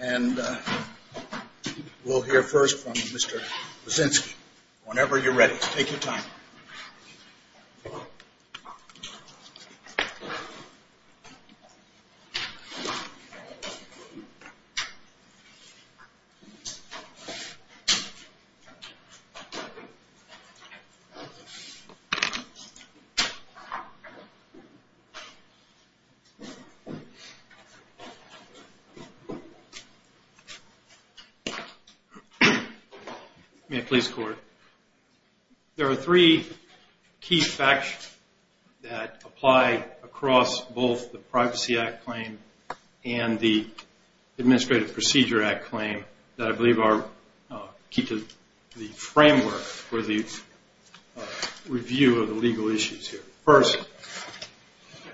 and we'll hear first from Mr. Brzezinski. Whenever you're ready, take your time. There are three key facts that apply across both the Privacy Act claim and the Administrative Procedure Act claim that I believe are key to the framework for the review of the legal issues here. First,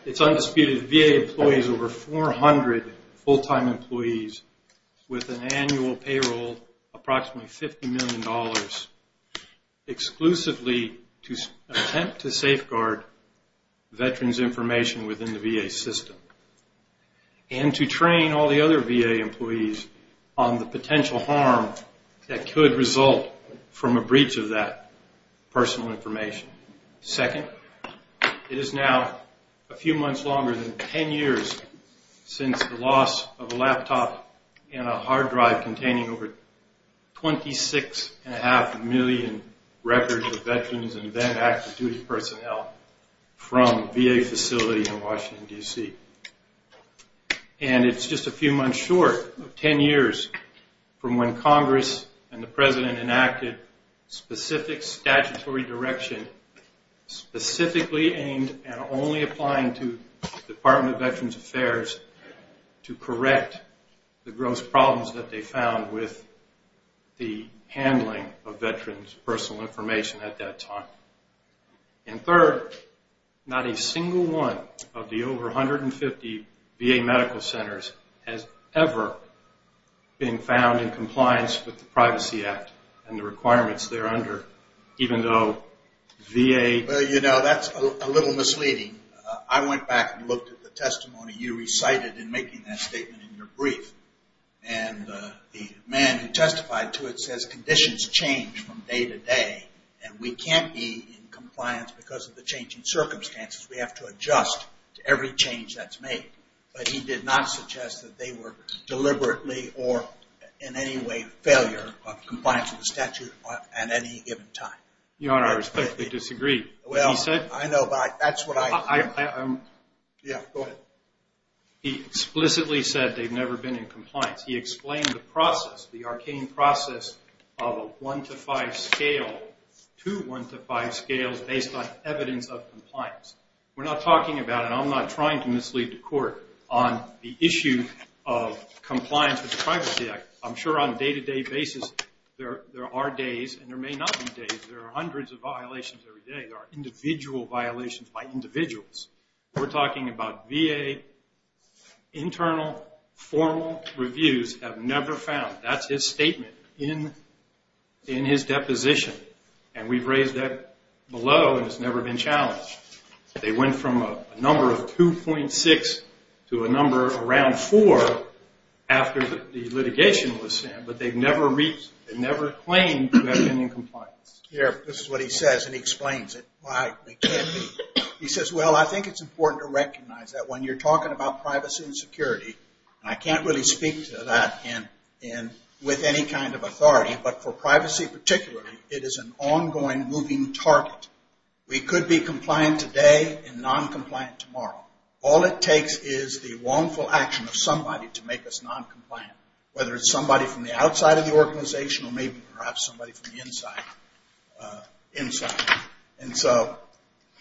it's undisputed that the VA employs over 400 full-time employees with an annual payroll of approximately $50 million exclusively to attempt to safeguard veterans' information within the VA system and to train all the other VA employees on the potential that could result from a breach of that personal information. Second, it is now a few months longer than 10 years since the loss of a laptop and a hard drive containing over 26.5 million records of veterans and then active duty personnel from VA facilities in Washington, D.C. And it's just a few months short of 10 years from when Congress and the President enacted specific statutory direction specifically aimed at only applying to the Department of Veterans Affairs to correct the gross problems that they found with the handling of veterans' personal information at that time. And third, not a single one of the over 150 VA medical centers has ever been found in compliance with the Privacy Act and the requirements there under, even though VA... Well, you know, that's a little misleading. I went back and looked at the testimony you recited in making that statement in your brief, and the man who testified to it says conditions change from day to day, and we can't be in compliance because of the changing circumstances. We have to adjust to every change that's made. But he did not suggest that they were deliberately or in any way failure of compliance with the statute at any given time. Your Honor, I respectfully disagree. Well, I know, but that's what I... I... Yeah, go ahead. He explicitly said they've never been in compliance. He explained the process, the arcane process of a one-to-five scale to one-to-five scales based on evidence of compliance. We're not talking about, and I'm not trying to mislead the Court on the issue of compliance with the Privacy Act. I'm sure on a day-to-day basis there are days, and there may not be days, there are hundreds of violations every day. There are individual violations by individuals. We're talking about VA internal formal reviews have never found, that's his statement in his deposition, and we've raised that below and it's never been challenged. They went from a number of 2.6 to a number around 4 after the litigation was sent, but they've never claimed to have been in compliance. Here, this is what he says, and he explains it. He says, well, I think it's important to recognize that when you're talking about privacy and security, and I can't really speak to that with any kind of authority, but for privacy particularly, it is an ongoing moving target. We could be compliant today and non-compliant tomorrow. All it takes is the wrongful action of somebody to make us non-compliant, whether it's somebody from the outside of the organization or maybe perhaps somebody from the inside.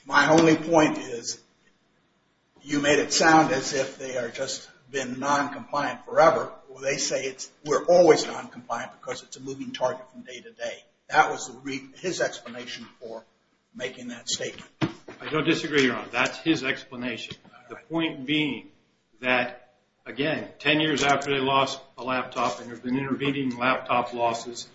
My only point is you made it sound as if they had just been non-compliant forever. They say we're always non-compliant because it's a moving target from day-to-day. That was his explanation for making that statement. I don't disagree, Your Honor. That's his explanation. The point being that, again, 10 years after they lost the laptop and there have been intervening laptop losses,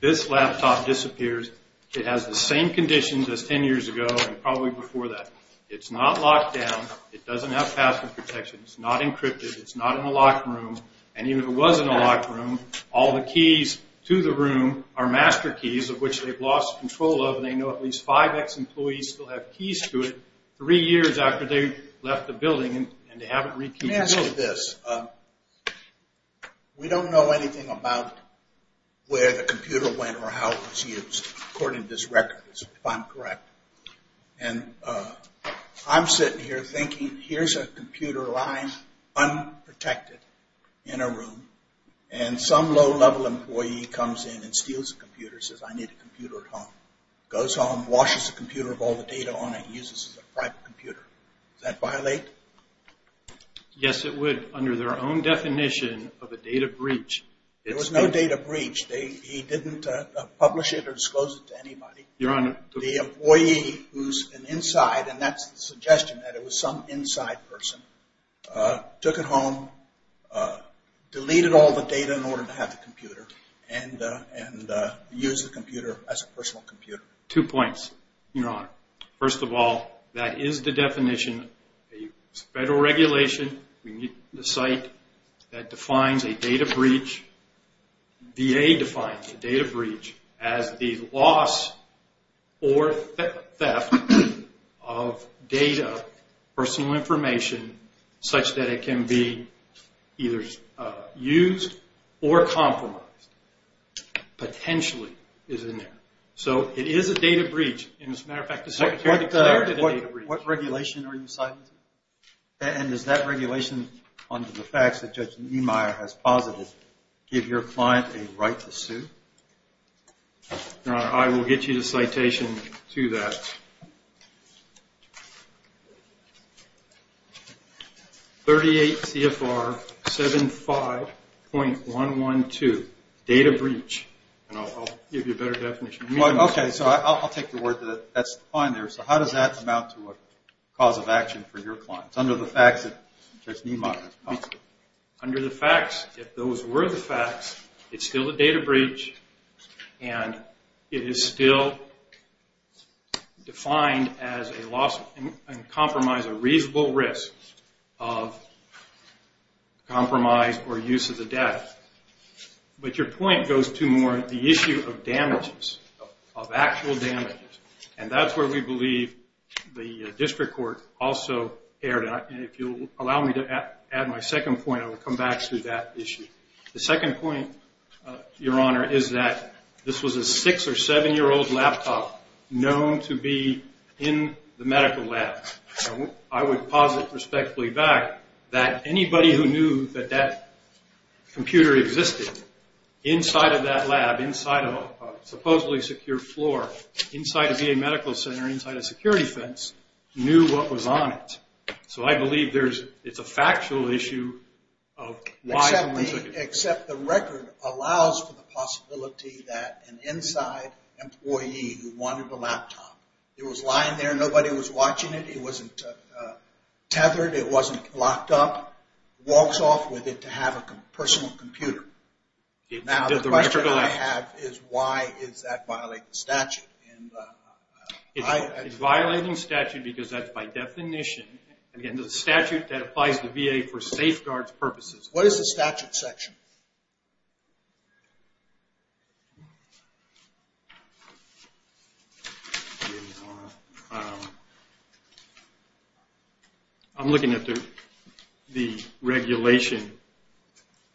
this laptop disappears. It has the same conditions as 10 years ago and probably before that. It's not locked down. It doesn't have password protection. It's not encrypted. It's not in a locked room, and even if it was in a locked room, all the keys to the room are master keys of which they've lost control of, and they know at least five ex-employees still have keys to it. Three years after they left the building and they haven't re-kept the keys. Let me ask you this. We don't know anything about where the computer went or how it was used, according to this record, if I'm correct. I'm sitting here thinking, here's a computer lying unprotected in a room, and some low-level employee comes in and steals the computer and says, Does that violate? Yes, it would, under their own definition of a data breach. There was no data breach. He didn't publish it or disclose it to anybody. Your Honor. The employee who's an inside, and that's the suggestion that it was some inside person, took it home, deleted all the data in order to have the computer, and used the computer as a personal computer. Two points, Your Honor. First of all, that is the definition. It's federal regulation. We need the site that defines a data breach. VA defines a data breach as the loss or theft of data, personal information, such that it can be either used or compromised, potentially is in there. So it is a data breach. As a matter of fact, the Secretary declared it a data breach. What regulation are you citing? And does that regulation, under the facts that Judge Niemeyer has posited, give your client a right to sue? Your Honor, I will get you the citation to that. 38 CFR 75.112, data breach. And I'll give you a better definition. Okay. So I'll take the word that that's fine there. So how does that amount to a cause of action for your clients, under the facts that Judge Niemeyer has posited? Under the facts, if those were the facts, it's still a data breach, and it is still defined as a loss and compromise, a reasonable risk of compromise or use of the data. But your point goes to more the issue of damages, of actual damages. And that's where we believe the district court also erred. And if you'll allow me to add my second point, I will come back to that issue. The second point, Your Honor, is that this was a six- or seven-year-old laptop known to be in the medical lab. I would posit respectfully back that anybody who knew that that computer existed inside of that lab, inside of a supposedly secure floor, inside a VA medical center, inside a security fence, knew what was on it. So I believe it's a factual issue of why it was there. Except the record allows for the possibility that an inside employee who wanted the laptop, it was lying there, nobody was watching it, it wasn't tethered, it wasn't locked up, walks off with it to have a personal computer. Now the question I have is why does that violate the statute? It's violating statute because that's by definition, again, the statute that applies to VA for safeguards purposes. What is the statute section? Your Honor, I'm looking at the regulation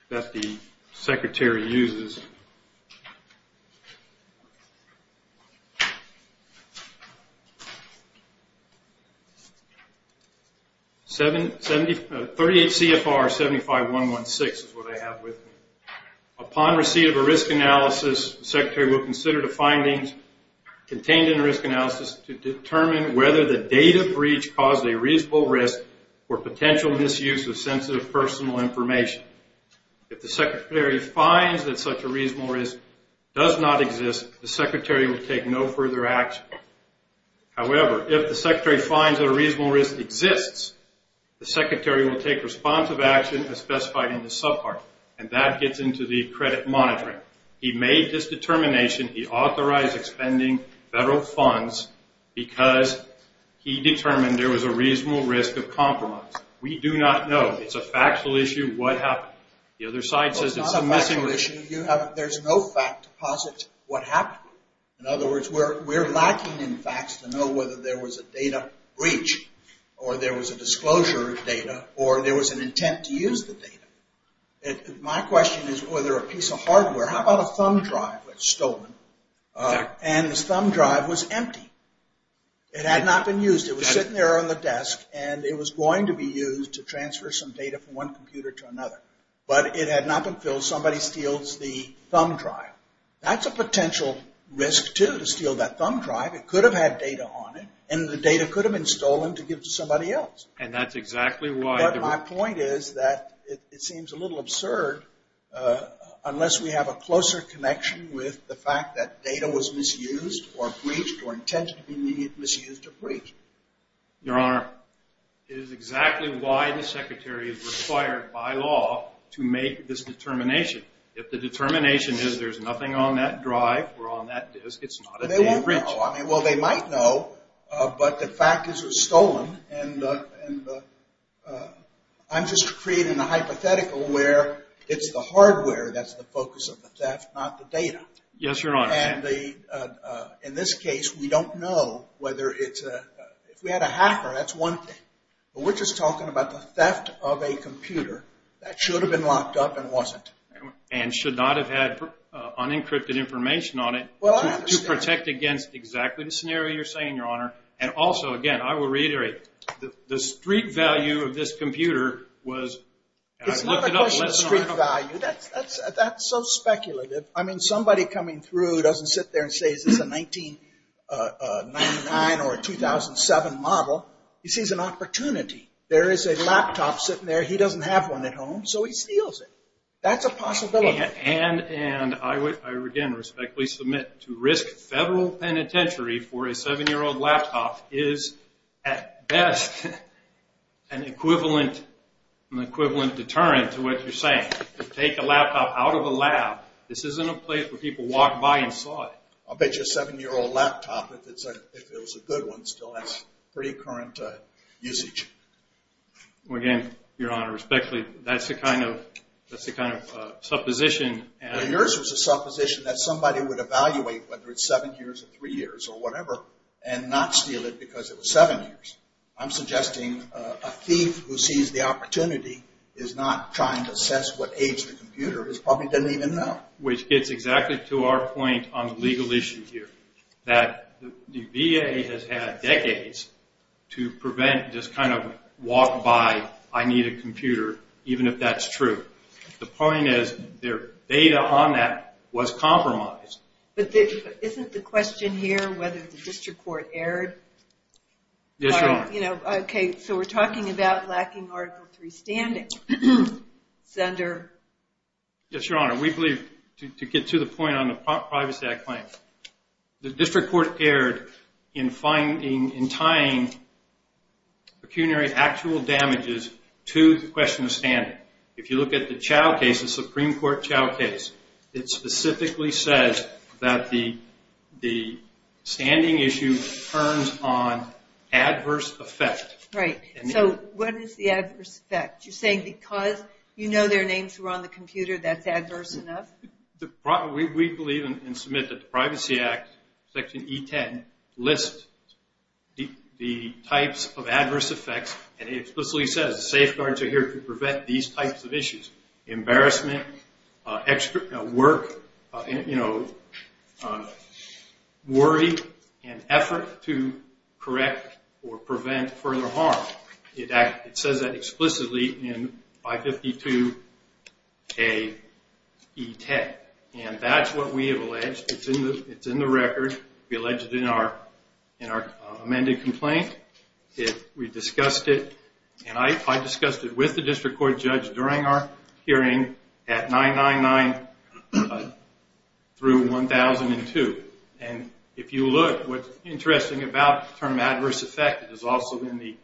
that the secretary uses. 38 CFR 75116 is what I have with me. Upon receipt of a risk analysis, the secretary will consider the findings contained in the risk analysis to determine whether the data breach caused a reasonable risk or potential misuse of sensitive personal information. If the secretary finds that such a reasonable risk does not exist, the secretary will take no further action. However, if the secretary finds that a reasonable risk exists, the secretary will take responsive action as specified in the subpart. And that gets into the credit monitoring. He made this determination. He authorized expending federal funds because he determined there was a reasonable risk of compromise. We do not know. It's a factual issue. What happened? The other side says it's a missing issue. There's no fact to posit what happened. In other words, we're lacking in facts to know whether there was a data breach or there was a disclosure of data or there was an intent to use the data. My question is whether a piece of hardware, how about a thumb drive that's stolen, and this thumb drive was empty. It had not been used. It was sitting there on the desk, and it was going to be used to transfer some data from one computer to another. But it had not been filled. Somebody steals the thumb drive. That's a potential risk, too, to steal that thumb drive. It could have had data on it, and the data could have been stolen to give to somebody else. And that's exactly why. But my point is that it seems a little absurd, unless we have a closer connection with the fact that data was misused or breached or intended to be misused or breached. Your Honor, it is exactly why the Secretary is required by law to make this determination. If the determination is there's nothing on that drive or on that disk, it's not a data breach. They won't know. Well, they might know, but the fact is it was stolen. And I'm just creating a hypothetical where it's the hardware that's the focus of the theft, not the data. Yes, Your Honor. In this case, we don't know whether it's a – if we had a hacker, that's one thing. But we're just talking about the theft of a computer that should have been locked up and wasn't. And should not have had unencrypted information on it to protect against exactly the scenario you're saying, Your Honor. And also, again, I will reiterate, the street value of this computer was – It's not a question of street value. That's so speculative. I mean, somebody coming through doesn't sit there and say, is this a 1999 or a 2007 model. He sees an opportunity. There is a laptop sitting there. He doesn't have one at home, so he steals it. That's a possibility. And I, again, respectfully submit to risk federal penitentiary for a 7-year-old laptop is at best an equivalent deterrent to what you're saying. To take a laptop out of a lab. This isn't a place where people walk by and saw it. I'll bet you a 7-year-old laptop, if it was a good one, still has pretty current usage. Well, again, Your Honor, respectfully, that's the kind of supposition. Well, yours was a supposition that somebody would evaluate whether it's 7 years or 3 years or whatever and not steal it because it was 7 years. I'm suggesting a thief who sees the opportunity is not trying to assess what age the computer is. Probably doesn't even know. Which gets exactly to our point on the legal issue here. That the VA has had decades to prevent this kind of walk by, I need a computer, even if that's true. The point is their data on that was compromised. But isn't the question here whether the district court erred? Yes, Your Honor. Okay, so we're talking about lacking Article 3 standing. Senator? Yes, Your Honor. We believe, to get to the point on the Privacy Act claim, the district court erred in tying pecuniary actual damages to the question of standing. If you look at the Chao case, the Supreme Court Chao case, it specifically says that the standing issue turns on adverse effect. Right. So what is the adverse effect? You're saying because you know their names were on the computer, that's adverse enough? We believe and submit that the Privacy Act, Section E10, lists the types of adverse effects and it explicitly says safeguards are here to prevent these types of issues. Embarrassment, extra work, you know, worry and effort to correct or prevent further harm. It says that explicitly in 552AE10. And that's what we have alleged. It's in the record. We allege it in our amended complaint. We discussed it and I discussed it with the district court judge during our hearing at 999 through 1002. And if you look, what's interesting about the term adverse effect is also in the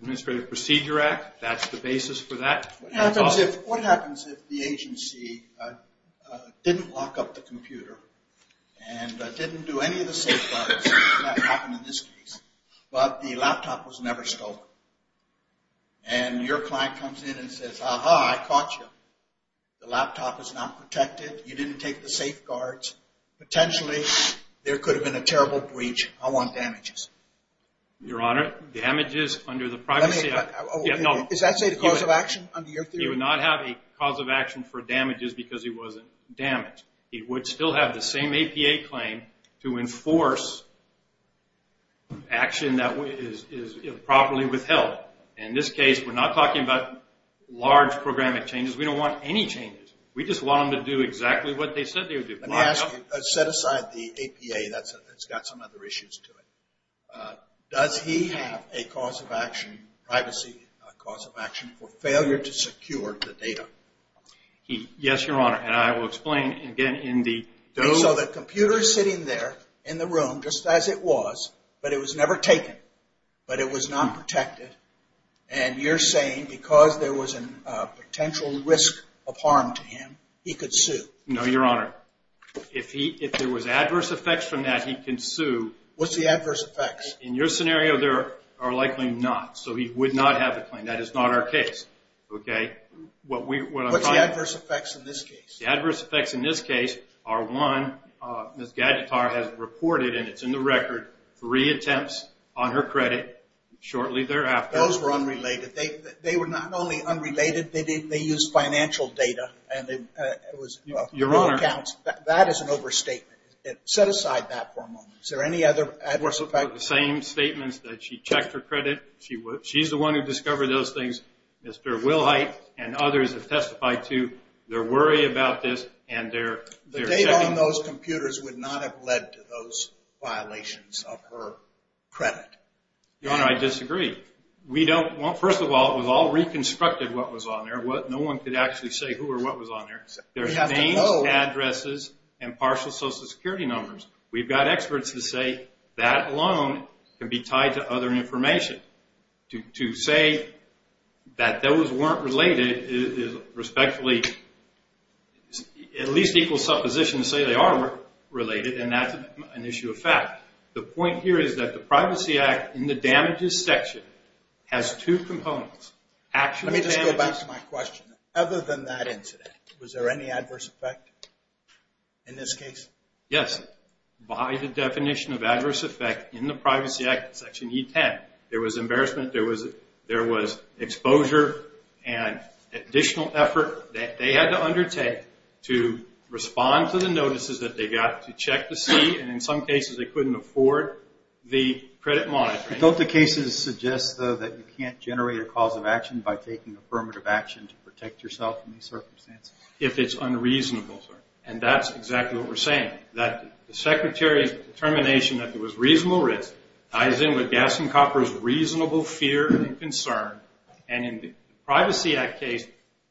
Administrative Procedure Act. That's the basis for that. What happens if the agency didn't lock up the computer and didn't do any of the safeguards? That happened in this case. But the laptop was never stolen. And your client comes in and says, aha, I caught you. The laptop is not protected. You didn't take the safeguards. Potentially there could have been a terrible breach. I want damages. Your Honor, damages under the Privacy Act. Is that a cause of action under your theory? You would not have a cause of action for damages because he wasn't damaged. He would still have the same APA claim to enforce action that is properly withheld. In this case, we're not talking about large programming changes. We don't want any changes. We just want them to do exactly what they said they would do. Let me ask you, set aside the APA. That's got some other issues to it. Does he have a cause of action, privacy cause of action for failure to secure the data? Yes, Your Honor. And I will explain. So the computer is sitting there in the room just as it was, but it was never taken. But it was not protected. And you're saying because there was a potential risk of harm to him, he could sue. No, Your Honor. If there was adverse effects from that, he can sue. What's the adverse effects? In your scenario, there are likely not. So he would not have the claim. That is not our case. What's the adverse effects in this case? The adverse effects in this case are, one, Miss Gadgetar has reported, and it's in the record, three attempts on her credit shortly thereafter. Those were unrelated. They were not only unrelated, they used financial data. Your Honor. That is an overstatement. Set aside that for a moment. Is there any other adverse effects? The same statements that she checked her credit. She's the one who discovered those things, Miss Gadgetar. Mr. Wilhite and others have testified, too. They're worried about this. The data on those computers would not have led to those violations of her credit. Your Honor, I disagree. First of all, it was all reconstructed, what was on there. No one could actually say who or what was on there. There's names, addresses, and partial Social Security numbers. We've got experts that say that alone can be tied to other information. To say that those weren't related is respectfully at least equal supposition to say they are related, and that's an issue of fact. The point here is that the Privacy Act in the damages section has two components. Let me just go back to my question. Other than that incident, was there any adverse effect in this case? Yes. By the definition of adverse effect in the Privacy Act, Section E10, there was embarrassment, there was exposure, and additional effort that they had to undertake to respond to the notices that they got to check to see, and in some cases they couldn't afford the credit monitoring. Don't the cases suggest, though, that you can't generate a cause of action by taking affirmative action to protect yourself in these circumstances? If it's unreasonable, sir. That's exactly what we're saying, that the Secretary's determination that there was reasonable risk ties in with Gas and Copper's reasonable fear and concern. In the Privacy Act case,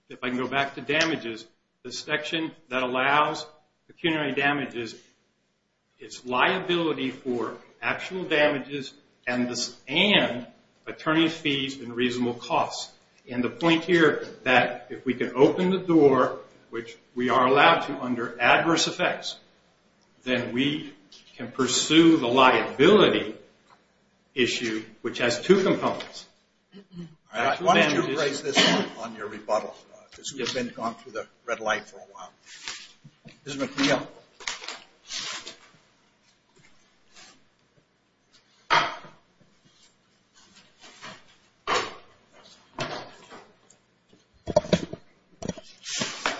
if I can go back to damages, the section that allows pecuniary damages, it's liability for actual damages and attorney fees and reasonable costs. And the point here that if we can open the door, which we are allowed to under adverse effects, then we can pursue the liability issue, which has two components. Why don't you raise this one on your rebuttal? Because we've been gone through the red light for a while. Ms. McNeil.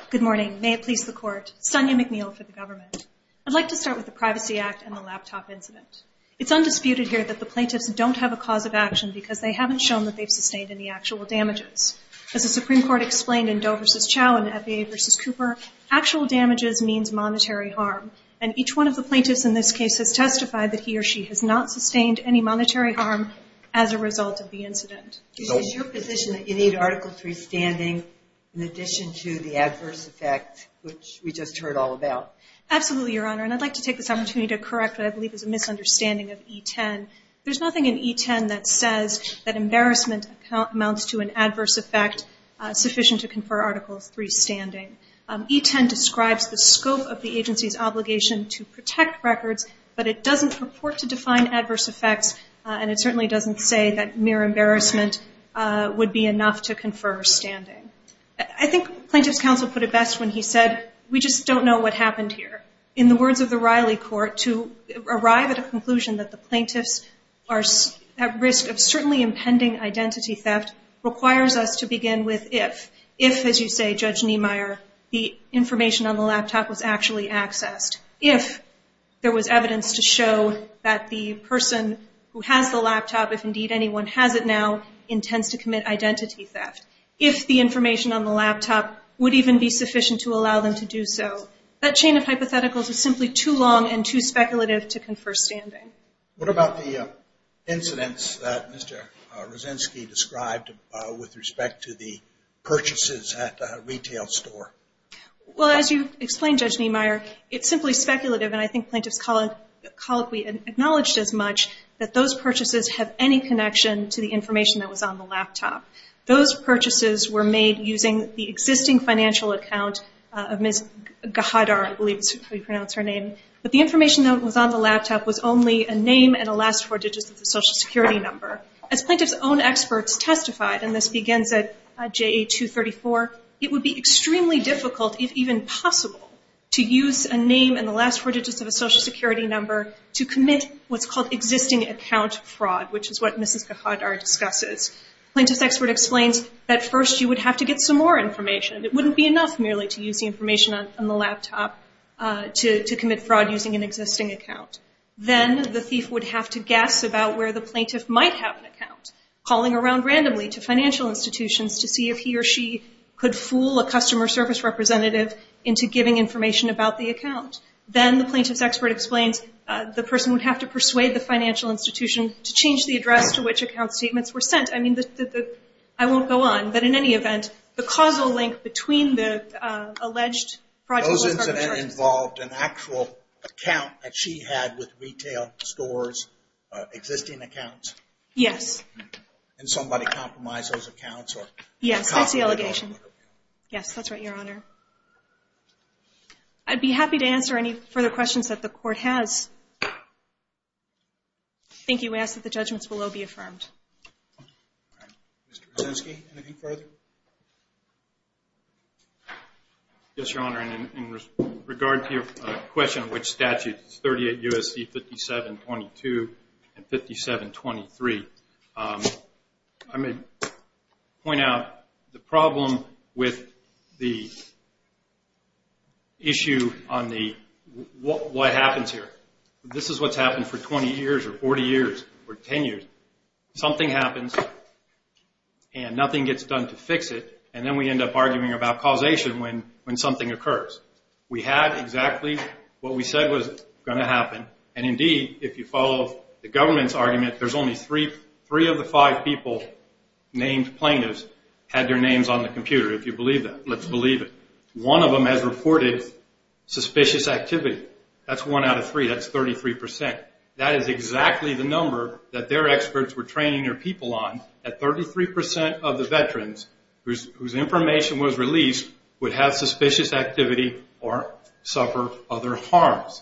Good morning. May it please the Court, Sonia McNeil for the government. I'd like to start with the Privacy Act and the laptop incident. It's undisputed here that the plaintiffs don't have a cause of action because they haven't shown that they've sustained any actual damages. As the Supreme Court explained in Doe v. Chau and FAA v. Cooper, actual damages means monetary harm. And each one of the plaintiffs in this case has testified that he or she has not sustained any monetary harm as a result of the incident. Is your position that you need Article III standing in addition to the adverse effect, which we just heard all about? Absolutely, Your Honor. And I'd like to take this opportunity to correct what I believe is a misunderstanding of E10. There's nothing in E10 that says that embarrassment amounts to an adverse effect sufficient to confer Article III standing. E10 describes the scope of the agency's obligation to protect records, but it doesn't purport to define adverse effects, and it certainly doesn't say that mere embarrassment would be enough to confer standing. I think plaintiff's counsel put it best when he said, we just don't know what happened here. In the words of the Riley Court, to arrive at a conclusion that the plaintiffs are at risk of certainly impending identity theft requires us to begin with if. If, as you say, Judge Niemeyer, the information on the laptop was actually accessed. If there was evidence to show that the person who has the laptop, if indeed anyone has it now, intends to commit identity theft. If the information on the laptop would even be sufficient to allow them to do so. That chain of hypotheticals is simply too long and too speculative to confer standing. What about the incidents that Mr. Rosensky described with respect to the purchases at the retail store? Well, as you explained, Judge Niemeyer, it's simply speculative, and I think plaintiff's colloquy acknowledged as much that those purchases have any connection to the information that was on the laptop. Those purchases were made using the existing financial account of Ms. Gahadar, I believe is how you pronounce her name. But the information that was on the laptop was only a name and the last four digits of the Social Security number. As plaintiff's own experts testified, and this begins at JA 234, it would be extremely difficult, if even possible, to use a name and the last four digits of a Social Security number to commit what's called existing account fraud, which is what Mrs. Gahadar discusses. Plaintiff's expert explains that first you would have to get some more information. It wouldn't be enough merely to use the information on the laptop to commit fraud using an existing account. Then the thief would have to guess about where the plaintiff might have an account, calling around randomly to financial institutions to see if he or she could fool a customer service representative into giving information about the account. Then the plaintiff's expert explains the person would have to persuade the financial institution to change the address to which account statements were sent. I mean, I won't go on, but in any event, the causal link between the alleged project... Those incidents involved an actual account that she had with retail stores, existing accounts? Yes. And somebody compromised those accounts? Yes, that's the allegation. Yes, that's right, Your Honor. I'd be happy to answer any further questions that the court has. Thank you. We ask that the judgments below be affirmed. Mr. Brzezinski, anything further? Yes, Your Honor. In regard to your question of which statute, 38 U.S.C. 5722 and 5723, I'm going to point out the problem with the issue on what happens here. This is what's happened for 20 years or 40 years or 10 years. Something happens and nothing gets done to fix it, and then we end up arguing about causation when something occurs. We had exactly what we said was going to happen, and indeed, if you follow the government's argument, there's only three of the five people named plaintiffs had their names on the computer, if you believe that. Let's believe it. One of them has reported suspicious activity. That's one out of three. That's 33%. That is exactly the number that their experts were training their people on, that 33% of the veterans whose information was released would have suspicious activity or suffer other harms.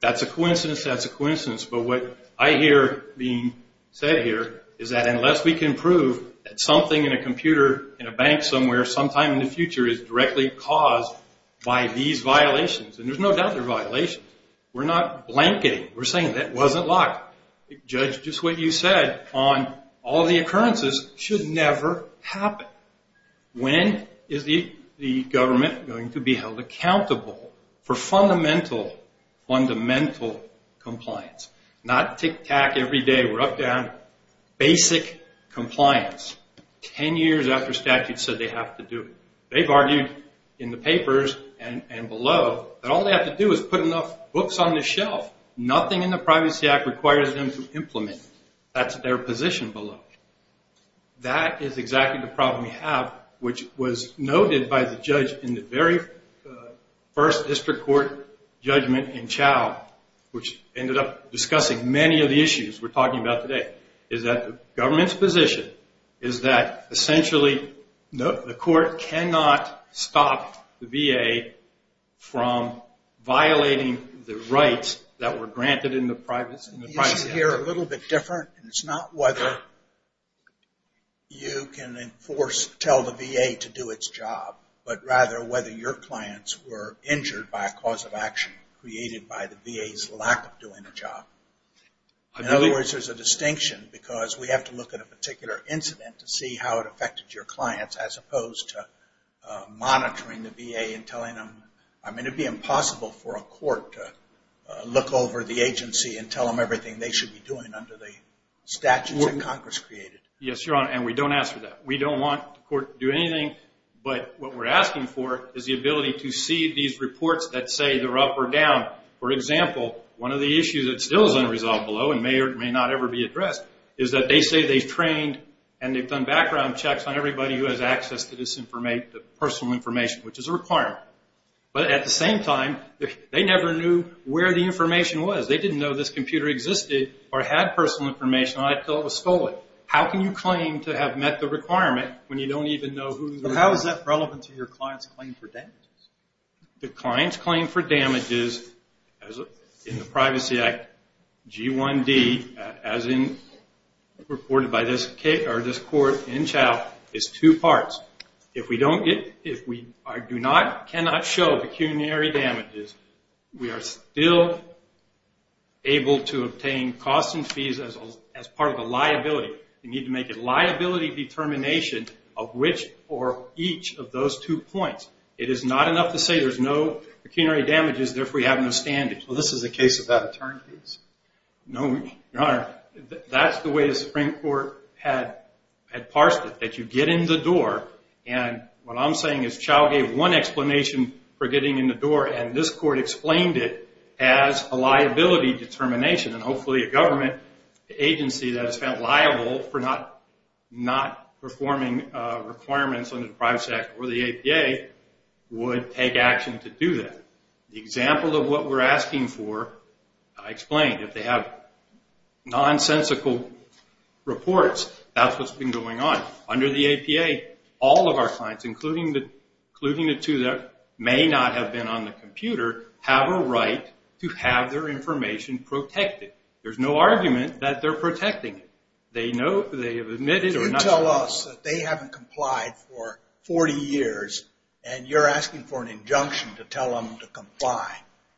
That's a coincidence. That's a coincidence. But what I hear being said here is that unless we can prove that something in a computer, in a bank somewhere sometime in the future is directly caused by these violations, and there's no doubt they're violations, we're not blanketing. We're saying that wasn't locked. Judge, just what you said on all the occurrences should never happen. When is the government going to be held accountable for fundamental, fundamental compliance? Not tic-tac every day. We're up to basic compliance. Ten years after statute said they have to do it. They've argued in the papers and below that all they have to do is put enough books on the shelf. Nothing in the Privacy Act requires them to implement. That's their position below. That is exactly the problem we have, which was noted by the judge in the very first district court judgment in Chow, which ended up discussing many of the issues we're talking about today, is that the government's position is that essentially the court cannot stop the VA from violating the rights that were granted in the Privacy Act. It's not here a little bit different. It's not whether you can enforce, tell the VA to do its job, but rather whether your clients were injured by a cause of action created by the VA's lack of doing a job. In other words, there's a distinction, because we have to look at a particular incident to see how it affected your clients, as opposed to monitoring the VA and telling them. I mean, it would be impossible for a court to look over the agency and tell them everything they should be doing under the statutes that Congress created. Yes, Your Honor, and we don't ask for that. We don't want the court to do anything, but what we're asking for is the ability to see these reports that say they're up or down. For example, one of the issues that still is unresolved below and may or may not ever be addressed is that they say they've trained and they've done background checks on everybody who has access to personal information, which is a requirement. But at the same time, they never knew where the information was. They didn't know this computer existed or had personal information until it was stolen. How can you claim to have met the requirement when you don't even know who's in it? But how is that relevant to your client's claim for damages? The client's claim for damages in the Privacy Act, G1D, as reported by this court in Chow, is two parts. If we do not, cannot show pecuniary damages, we are still able to obtain costs and fees as part of a liability. You need to make a liability determination of which or each of those two points. It is not enough to say there's no pecuniary damages, therefore you have no standings. Well, this is the case of that attorney, please. No, Your Honor, that's the way the Supreme Court had parsed it, that you get in the door, and what I'm saying is Chow gave one explanation for getting in the door, and this court explained it as a liability determination, and hopefully a government agency that is found liable for not performing requirements under the Privacy Act or the APA would take action to do that. The example of what we're asking for, I explained. If they have nonsensical reports, that's what's been going on. Under the APA, all of our clients, including the two that may not have been on the computer, have a right to have their information protected. There's no argument that they're protecting it. They have admitted or not. You tell us that they haven't complied for 40 years, and you're asking for an injunction to tell them to comply.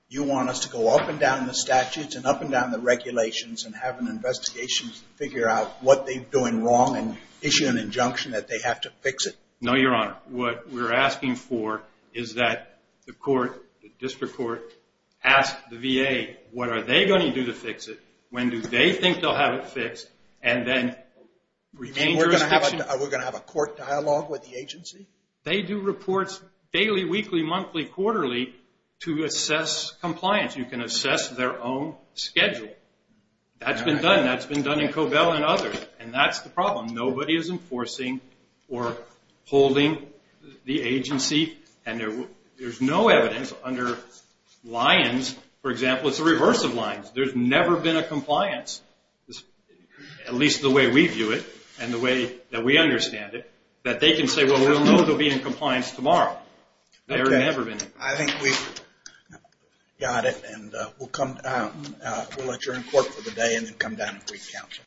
You want us to go up and down the statutes and up and down the regulations and have an investigation to figure out what they're doing wrong and issue an injunction that they have to fix it? No, Your Honor. What we're asking for is that the court, the district court, ask the VA what are they going to do to fix it, when do they think they'll have it fixed, and then remain jurisdiction. Are we going to have a court dialogue with the agency? They do reports daily, weekly, monthly, quarterly to assess compliance. You can assess their own schedule. That's been done. That's been done in Cobell and others, and that's the problem. Nobody is enforcing or holding the agency, and there's no evidence under Lyons. For example, it's the reverse of Lyons. There's never been a compliance, at least the way we view it and the way that we understand it, that they can say, well, we'll know they'll be in compliance tomorrow. I think we've got it, and we'll let you're in court for the day and then come down and brief counsel.